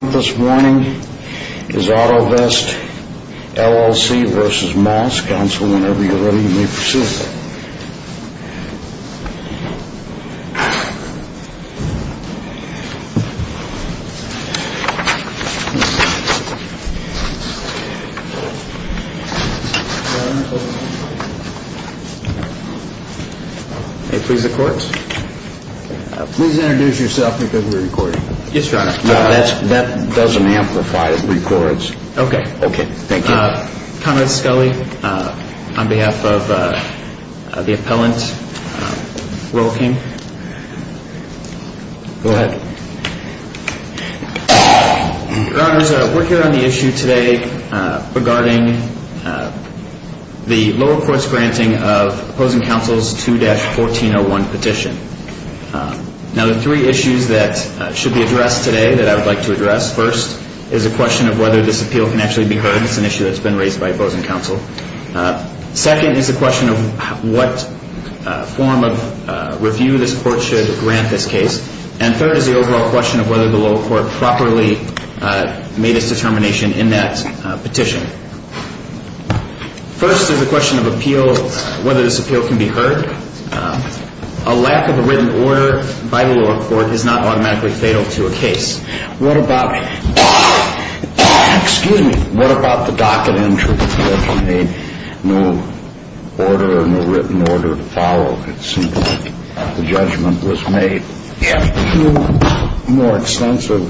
This morning is Autovest, LLC v. Moss. Council, whenever you're ready, you may proceed. May I please the courts? Please introduce yourself because we're recording. Yes, Your Honor. That doesn't amplify. It records. Okay. Okay. Thank you. Conrad Scully, on behalf of the appellant, Rolking. Go ahead. Your Honors, we're here on the issue today regarding the lower court's granting of opposing counsel's 2-1401 petition. Now, the three issues that should be addressed today that I would like to address. First is a question of whether this appeal can actually be heard. It's an issue that's been raised by opposing counsel. Second is a question of what form of review this court should grant this case. And third is the overall question of whether the lower court properly made its determination in that petition. First is a question of appeal, whether this appeal can be heard. A lack of a written order by the lower court is not automatically fatal to a case. What about the docket entry? If you made no order or no written order to follow, it seems like the judgment was made. If no more extensive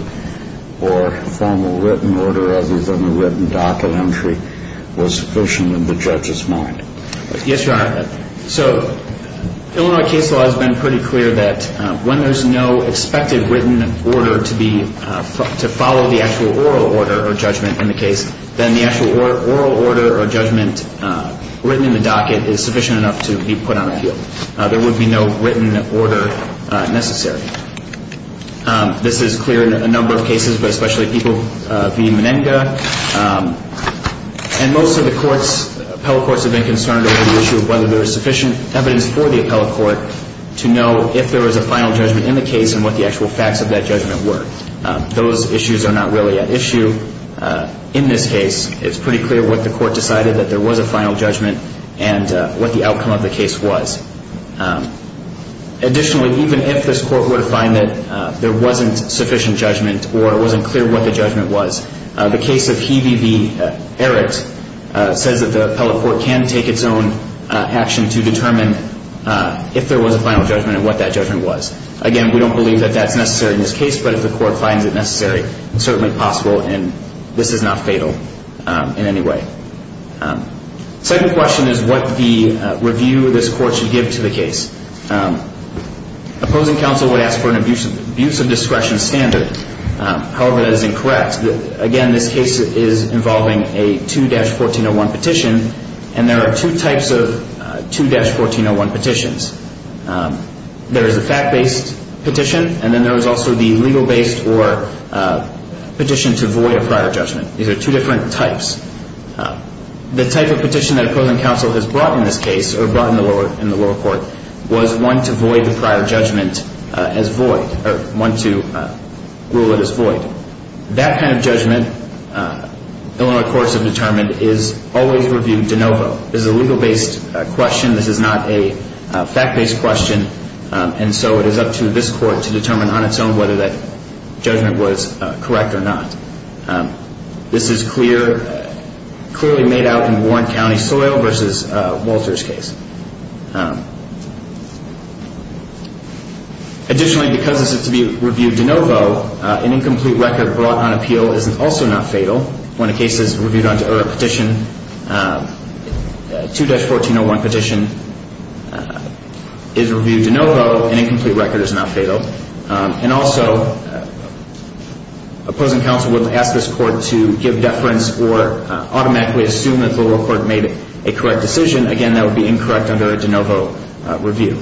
or formal written order other than the written docket entry was sufficient in the judge's mind. Yes, Your Honor. So Illinois case law has been pretty clear that when there's no expected written order to follow the actual oral order or judgment in the case, then the actual oral order or judgment written in the docket is sufficient enough to be put on appeal. There would be no written order necessary. This is clear in a number of cases, but especially people via Meninga. And most of the courts, appellate courts have been concerned over the issue of whether there is sufficient evidence for the appellate court to know if there was a final judgment in the case and what the actual facts of that judgment were. Those issues are not really an issue in this case. It's pretty clear what the court decided that there was a final judgment and what the outcome of the case was. Additionally, even if this court were to find that there wasn't sufficient judgment or it wasn't clear what the judgment was, the case of Hebe v. Ehrich says that the appellate court can take its own action to determine if there was a final judgment and what that judgment was. Again, we don't believe that that's necessary in this case, but if the court finds it necessary, it's certainly possible, and this is not fatal in any way. Second question is what the review of this court should give to the case. Opposing counsel would ask for an abuse of discretion standard. However, that is incorrect. Again, this case is involving a 2-1401 petition, and there are two types of 2-1401 petitions. There is a fact-based petition, and then there is also the legal-based or petition to void a prior judgment. These are two different types. The type of petition that opposing counsel has brought in this case or brought in the lower court was one to void the prior judgment as void or one to rule it as void. That kind of judgment, Illinois courts have determined, is always reviewed de novo. This is a legal-based question. This is not a fact-based question, and so it is up to this court to determine on its own whether that judgment was correct or not. This is clearly made out in Warren County soil versus Walter's case. Additionally, because this is to be reviewed de novo, an incomplete record brought on appeal is also not fatal. When a case is reviewed under a petition, a 2-1401 petition is reviewed de novo. An incomplete record is not fatal. Also, opposing counsel will ask this court to give deference or automatically assume that the lower court made a correct decision. Again, that would be incorrect under a de novo review.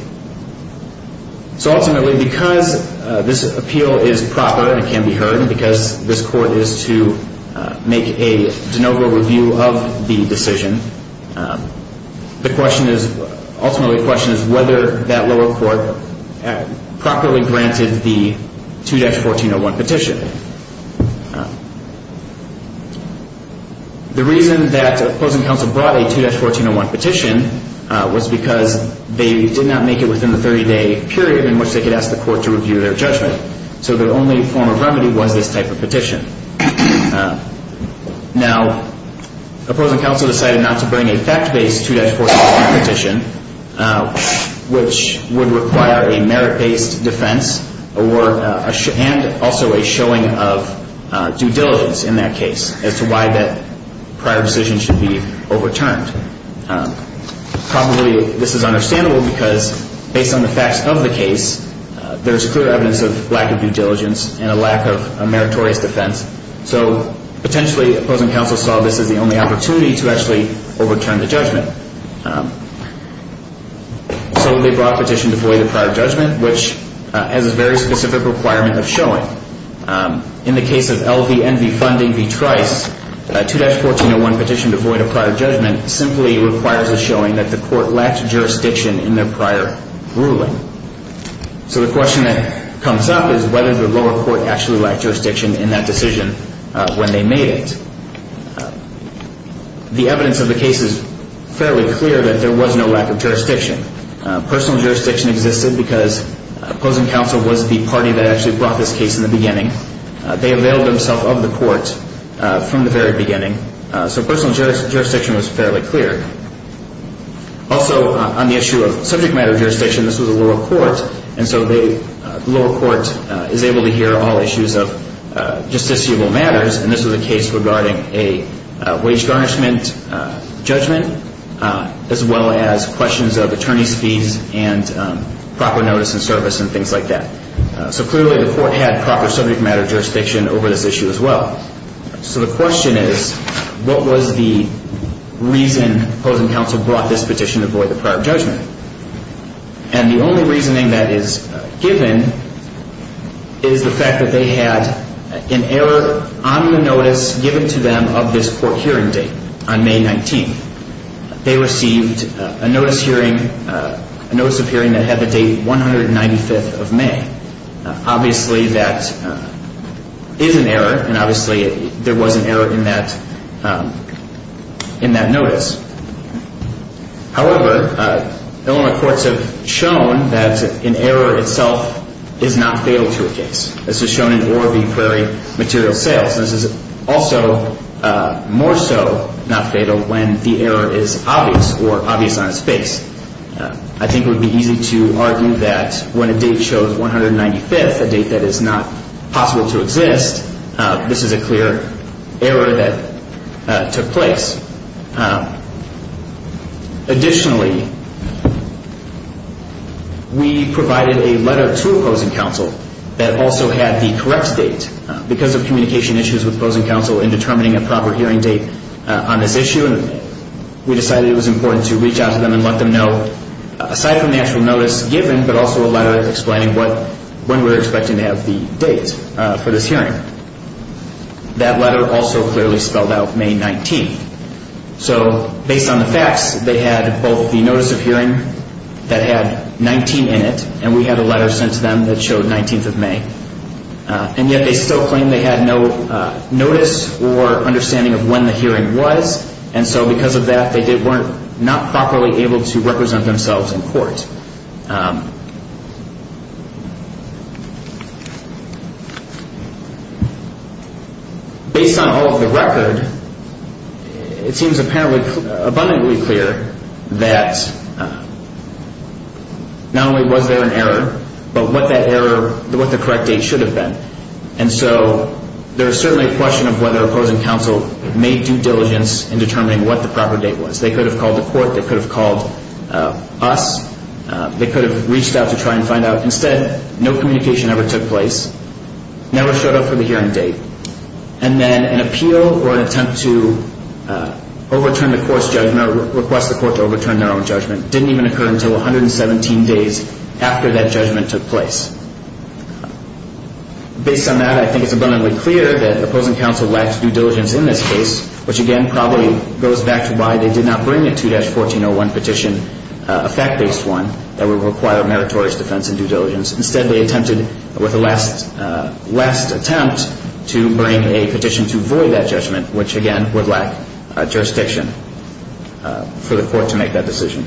Ultimately, because this appeal is proper and can be heard, because this court is to make a de novo review of the decision, the question is, ultimately the question is whether that lower court properly granted the 2-1401 petition. The reason that opposing counsel brought a 2-1401 petition was because they did not make it within the 30-day period in which they could ask the court to review their judgment. So the only form of remedy was this type of petition. Now, opposing counsel decided not to bring a fact-based 2-1401 petition, which would require a merit-based defense and also a showing of due diligence in that case as to why that prior decision should be overturned. Probably this is understandable because based on the facts of the case, there's clear evidence of lack of due diligence and a lack of a meritorious defense. So potentially opposing counsel saw this as the only opportunity to actually overturn the judgment. So they brought a petition to void a prior judgment, which has a very specific requirement of showing. In the case of LVNV funding v. Trice, a 2-1401 petition to void a prior judgment simply requires a showing that the court lacked jurisdiction in their prior ruling. So the question that comes up is whether the lower court actually lacked jurisdiction in that decision when they made it. The evidence of the case is fairly clear that there was no lack of jurisdiction. Personal jurisdiction existed because opposing counsel was the party that actually brought this case in the beginning. They availed themselves of the court from the very beginning, so personal jurisdiction was fairly clear. Also on the issue of subject matter jurisdiction, this was a lower court, and so the lower court is able to hear all issues of justiciable matters, and this was a case regarding a wage garnishment judgment, as well as questions of attorney's fees and proper notice and service and things like that. So clearly the court had proper subject matter jurisdiction over this issue as well. So the question is, what was the reason opposing counsel brought this petition to void the prior judgment? And the only reasoning that is given is the fact that they had an error on the notice given to them of this court hearing date on May 19th. They received a notice of hearing that had the date 195th of May. Obviously that is an error, and obviously there was an error in that notice. However, Illinois courts have shown that an error itself is not fatal to a case. This is shown in Orr v. Prairie material sales. This is also more so not fatal when the error is obvious or obvious on its face. I think it would be easy to argue that when a date shows 195th, a date that is not possible to exist, this is a clear error that took place. Additionally, we provided a letter to opposing counsel that also had the correct date. Because of communication issues with opposing counsel in determining a proper hearing date on this issue, we decided it was important to reach out to them and let them know, aside from the actual notice given, but also a letter explaining when we were expecting to have the date for this hearing. That letter also clearly spelled out May 19th. So based on the facts, they had both the notice of hearing that had 19 in it, and we had a letter sent to them that showed 19th of May. And yet they still claimed they had no notice or understanding of when the hearing was, and so because of that, they weren't properly able to represent themselves in court. Based on all of the record, it seems abundantly clear that not only was there an error, but what that error, what the correct date should have been. And so there is certainly a question of whether opposing counsel made due diligence in determining what the proper date was. They could have called the court. They could have called us. They could have reached out to try and find out. Instead, no communication ever took place. Never showed up for the hearing date, and then an appeal or an attempt to overturn the court's judgment or request the court to overturn their own judgment didn't even occur until 117 days after that judgment took place. Based on that, I think it's abundantly clear that opposing counsel lacked due diligence in this case, which again probably goes back to why they did not bring a 2-1401 petition, a fact-based one, that would require meritorious defense and due diligence. Instead, they attempted with a last attempt to bring a petition to void that judgment, which again would lack jurisdiction for the court to make that decision.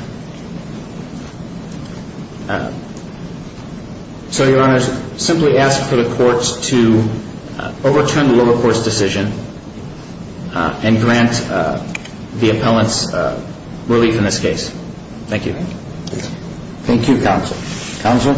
So, Your Honors, simply ask for the courts to overturn the lower court's decision and grant the appellants relief in this case. Thank you. Thank you, Counsel. Counsel?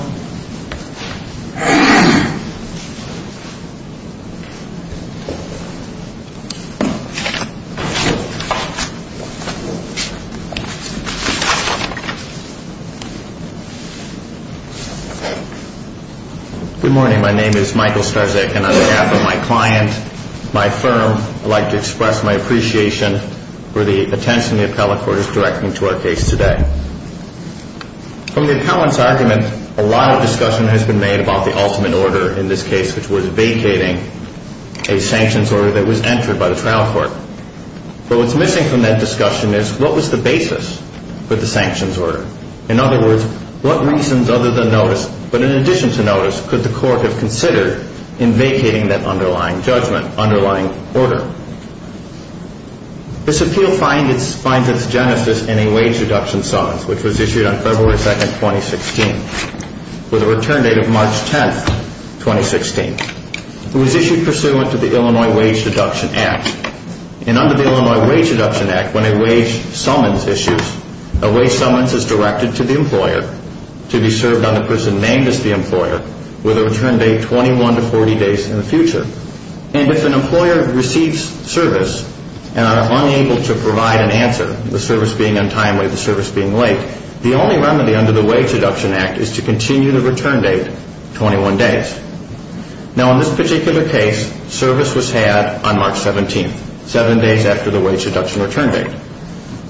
Good morning. My name is Michael Starzyk, and on behalf of my client, my firm, I'd like to express my appreciation for the attention the appellate court is directing to our case today. From the appellant's argument, a lot of discussion has been made about the ultimate order in this case, which was vacating a sanctions order that was entered by the trial court. But what's missing from that discussion is what was the basis for the sanctions order? In other words, what reasons other than notice, but in addition to notice, could the court have considered in vacating that underlying judgment, underlying order? This appeal finds its genesis in a wage deduction summons, which was issued on February 2, 2016, with a return date of March 10, 2016. It was issued pursuant to the Illinois Wage Deduction Act. And under the Illinois Wage Deduction Act, when a wage summons issues, a wage summons is directed to the employer to be served on the person named as the employer with a return date 21 to 40 days in the future. And if an employer receives service and are unable to provide an answer, the service being untimely, the service being late, the only remedy under the Wage Deduction Act is to continue the return date 21 days. Now, in this particular case, service was had on March 17, seven days after the wage deduction return date.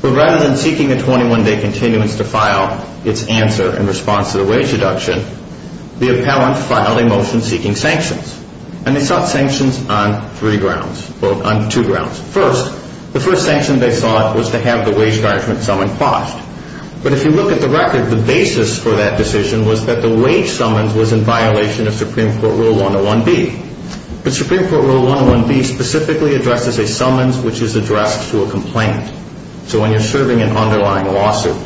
But rather than seeking a 21-day continuance to file its answer in response to the wage deduction, the appellant filed a motion seeking sanctions. And they sought sanctions on three grounds, or on two grounds. First, the first sanction they sought was to have the wage judgment summoned quashed. But if you look at the record, the basis for that decision was that the wage summons was in violation of Supreme Court Rule 101B. But Supreme Court Rule 101B specifically addresses a summons which is addressed to a complaint. So when you're serving an underlying lawsuit.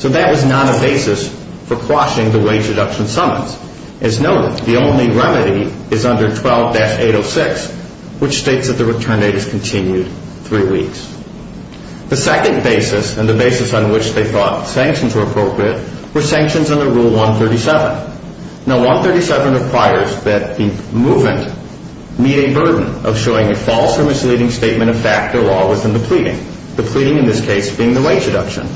So that was not a basis for quashing the wage deduction summons. As noted, the only remedy is under 12-806, which states that the return date is continued three weeks. The second basis, and the basis on which they thought sanctions were appropriate, were sanctions under Rule 137. Now, 137 requires that the movement meet a burden of showing a false or misleading statement of fact or law within the pleading. The pleading, in this case, being the wage deduction.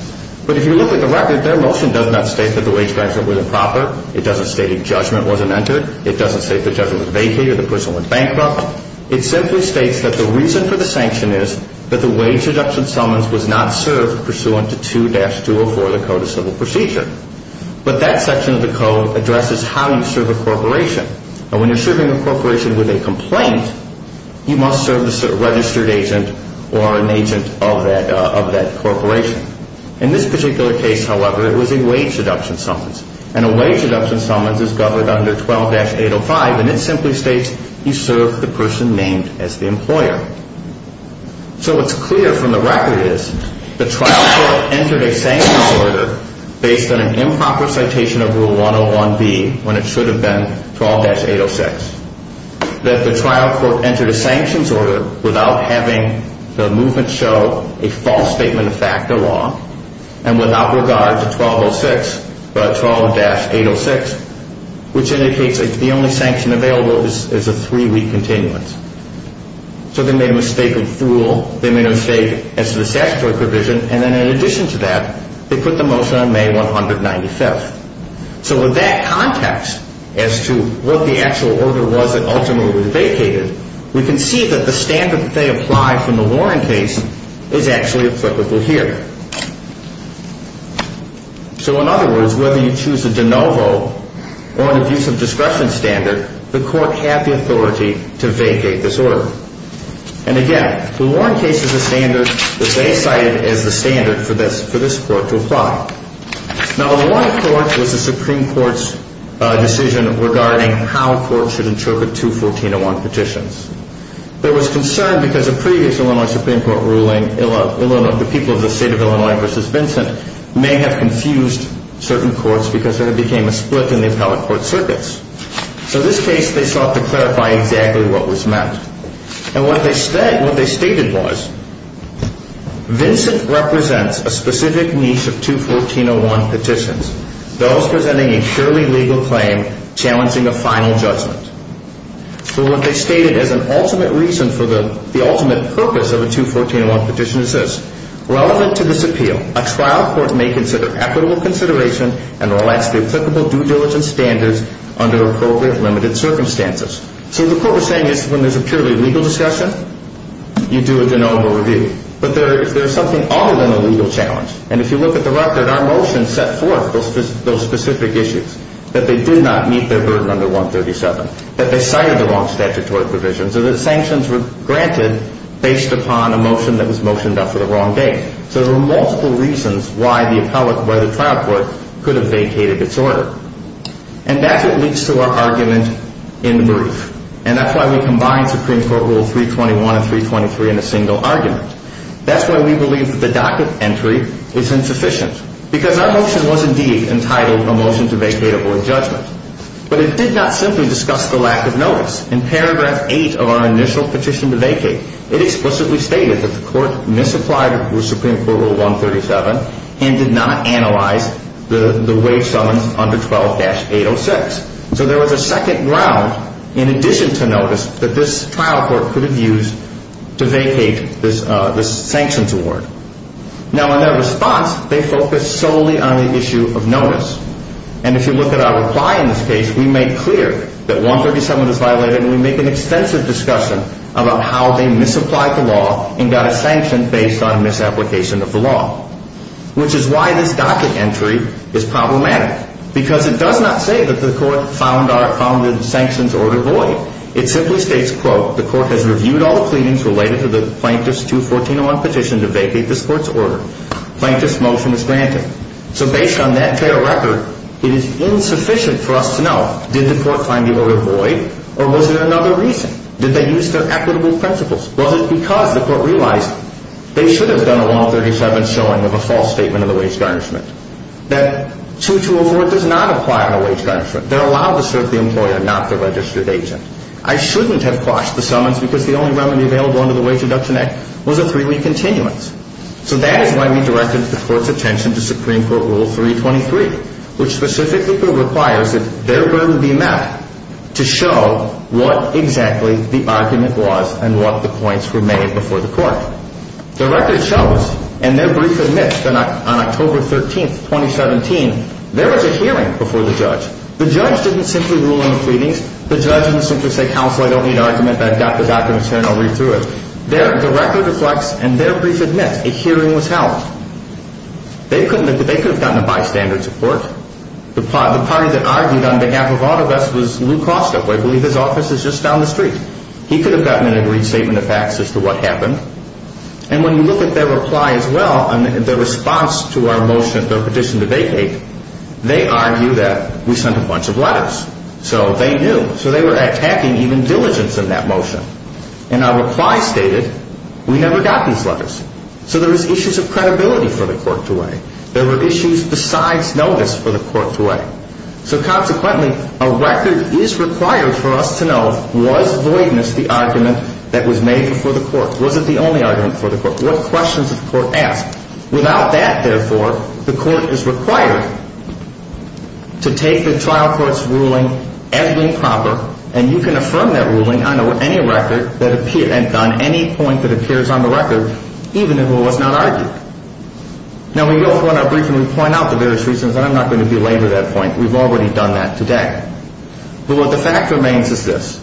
But if you look at the record, their motion does not state that the wage judgment was improper. It doesn't state a judgment wasn't entered. It doesn't state the judgment was vacated or the person went bankrupt. It simply states that the reason for the sanction is that the wage deduction summons was not served pursuant to 2-204 of the Code of Civil Procedure. But that section of the Code addresses how you serve a corporation. Now, when you're serving a corporation with a complaint, you must serve the registered agent or an agent of that corporation. In this particular case, however, it was a wage deduction summons. And a wage deduction summons is governed under 12-805, and it simply states you serve the person named as the employer. So what's clear from the record is the trial court entered a sanctions order based on an improper citation of Rule 101B when it should have been 12-806. That the trial court entered a sanctions order without having the movement show a false statement of fact or law and without regard to 12-806, which indicates the only sanction available is a three-week continuance. So they made a mistake of rule. They made a mistake as to the statutory provision. And then in addition to that, they put the motion on May 195th. So with that context as to what the actual order was that ultimately was vacated, we can see that the standard that they applied from the Warren case is actually applicable here. So in other words, whether you choose a de novo or an abuse of discretion standard, the court had the authority to vacate this order. And again, the Warren case is a standard that they cited as the standard for this court to apply. Now, the Warren court was the Supreme Court's decision regarding how courts should interpret two 1401 petitions. There was concern because of previous Illinois Supreme Court ruling, the people of the state of Illinois versus Vincent may have confused certain courts because there became a split in the appellate court circuits. So in this case, they sought to clarify exactly what was meant. And what they stated was Vincent represents a specific niche of two 1401 petitions, those presenting a purely legal claim challenging a final judgment. So what they stated as an ultimate reason for the ultimate purpose of a two 1401 petition is this. Relevant to this appeal, a trial court may consider equitable consideration and relax the applicable due diligence standards under appropriate limited circumstances. So the court was saying is when there's a purely legal discussion, you do a de novo review. But there is something other than a legal challenge. And if you look at the record, our motion set forth those specific issues, that they did not meet their burden under 137, that they cited the wrong statutory provisions, or that sanctions were granted based upon a motion that was motioned after the wrong date. So there were multiple reasons why the appellate by the trial court could have vacated its order. And that's what leads to our argument in the brief. And that's why we combined Supreme Court Rule 321 and 323 in a single argument. That's why we believe that the docket entry is insufficient because our motion was indeed entitled a motion to vacate a board judgment. But it did not simply discuss the lack of notice. In paragraph 8 of our initial petition to vacate, it explicitly stated that the court misapplied Supreme Court Rule 137 and did not analyze the waive summons under 12-806. So there was a second ground in addition to notice that this trial court could have used to vacate this sanctions award. Now in their response, they focused solely on the issue of notice. And if you look at our reply in this case, we made clear that 137 was violated and we make an extensive discussion about how they misapplied the law and got a sanction based on misapplication of the law, which is why this docket entry is problematic because it does not say that the court found the sanctions order void. It simply states, quote, the court has reviewed all the pleadings related to the Plaintiff's 214-01 petition to vacate this court's order. Plaintiff's motion is granted. So based on that fair record, it is insufficient for us to know did the court find the order void or was it another reason? Did they use their equitable principles? Was it because the court realized they should have done a 137 showing of a false statement of the wage garnishment? That 2204 does not apply on a wage garnishment. They're allowed to serve the employer, not the registered agent. I shouldn't have quashed the summons because the only remedy available under the Wage Reduction Act was a three-week continuance. So that is why we directed the court's attention to Supreme Court Rule 323, which specifically requires that their ruling be met to show what exactly the argument was and what the points were made before the court. The record shows, and their brief admits on October 13, 2017, there was a hearing before the judge. The judge didn't simply rule on the pleadings. The judge didn't simply say, counsel, I don't need argument. I've got the documents here and I'll read through it. The record reflects, and their brief admits, a hearing was held. They could have gotten a bystander's report. The party that argued on behalf of all of us was Lew Kostok. I believe his office is just down the street. He could have gotten an agreed statement of facts as to what happened. And when you look at their reply as well, the response to our motion of their petition to vacate, they argue that we sent a bunch of letters. So they knew. So they were attacking even diligence in that motion. And our reply stated, we never got these letters. So there was issues of credibility for the court to weigh. There were issues besides notice for the court to weigh. So consequently, a record is required for us to know, was voidness the argument that was made before the court? Was it the only argument before the court? What questions did the court ask? Without that, therefore, the court is required to take the trial court's ruling as being proper. And you can affirm that ruling on any record that appears, on any point that appears on the record, even if it was not argued. Now, we go forward in our briefing, we point out the various reasons, and I'm not going to belabor that point. We've already done that today. But what the fact remains is this.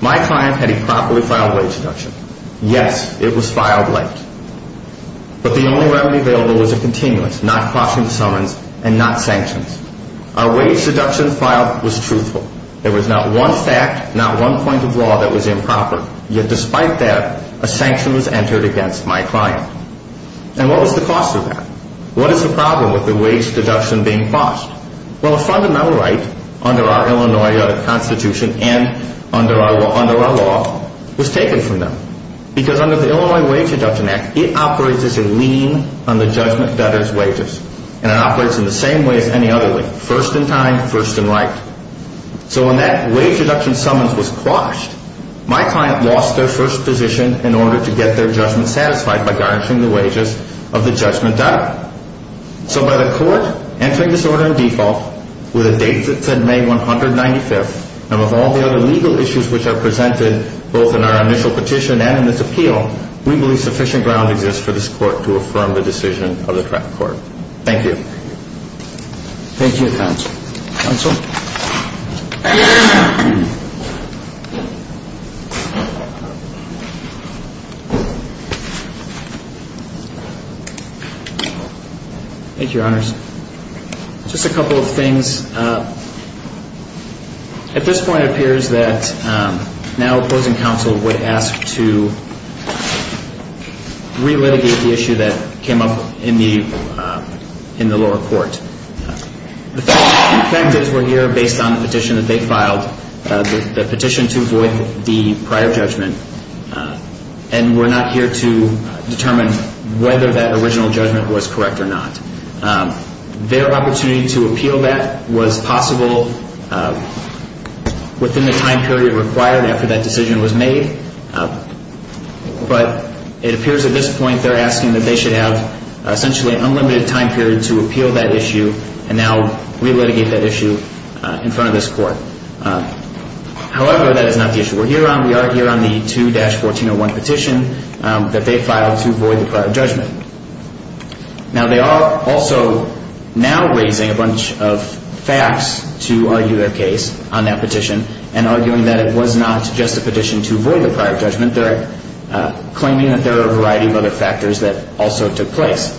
My client had a properly filed wage deduction. Yes, it was filed late. But the only remedy available was a continuance, not caution to summons and not sanctions. Our wage deduction file was truthful. There was not one fact, not one point of law that was improper. Yet despite that, a sanction was entered against my client. And what was the cost of that? What is the problem with the wage deduction being cost? Well, a fundamental right under our Illinois Constitution and under our law was taken from them. Because under the Illinois Wage Deduction Act, it operates as a lien on the judgment debtor's wages. And it operates in the same way as any other lien, first in time, first in right. So when that wage deduction summons was quashed, my client lost their first position in order to get their judgment satisfied by garnishing the wages of the judgment debtor. So by the court entering this order in default with a date that said May 195th, and with all the other legal issues which are presented both in our initial petition and in this appeal, we believe sufficient ground exists for this court to affirm the decision of the correct court. Thank you. Thank you, Counsel. Counsel? Thank you, Your Honors. Just a couple of things. At this point, it appears that now opposing counsel would ask to relitigate the issue that came up in the lower court. The fact is we're here based on the petition that they filed, the petition to avoid the prior judgment, and we're not here to determine whether that original judgment was correct or not. Their opportunity to appeal that was possible within the time period required after that decision was made. But it appears at this point they're asking that they should have essentially an unlimited time period to appeal that issue and now relitigate that issue in front of this court. However, that is not the issue we're here on. We are here on the 2-1401 petition that they filed to avoid the prior judgment. Now, they are also now raising a bunch of facts to argue their case on that petition and arguing that it was not just a petition to avoid the prior judgment. They're claiming that there are a variety of other factors that also took place.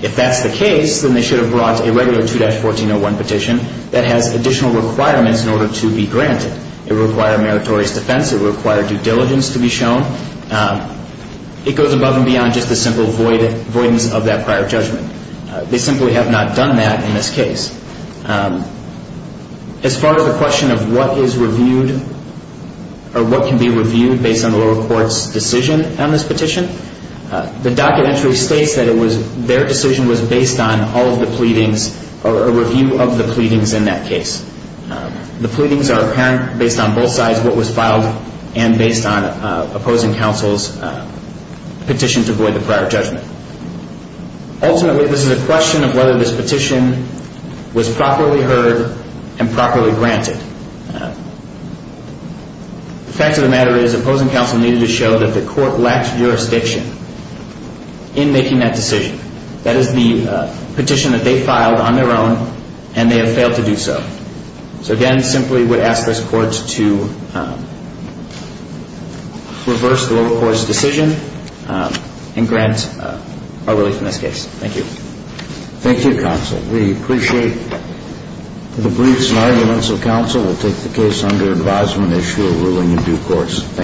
If that's the case, then they should have brought a regular 2-1401 petition that has additional requirements in order to be granted. It would require a meritorious defense. It would require due diligence to be shown. It goes above and beyond just the simple avoidance of that prior judgment. They simply have not done that in this case. As far as the question of what is reviewed or what can be reviewed based on the lower court's decision on this petition, the docket entry states that their decision was based on all of the pleadings or a review of the pleadings in that case. The pleadings are apparent based on both sides, what was filed and based on opposing counsel's petition to avoid the prior judgment. Ultimately, this is a question of whether this petition was properly heard and properly granted. The fact of the matter is opposing counsel needed to show that the court lacked jurisdiction in making that decision. That is the petition that they filed on their own and they have failed to do so. So again, I simply would ask this court to reverse the lower court's decision and grant a release in this case. Thank you. Thank you, counsel. We appreciate the briefs and arguments of counsel and will take the case under advisement, issue a ruling in due course.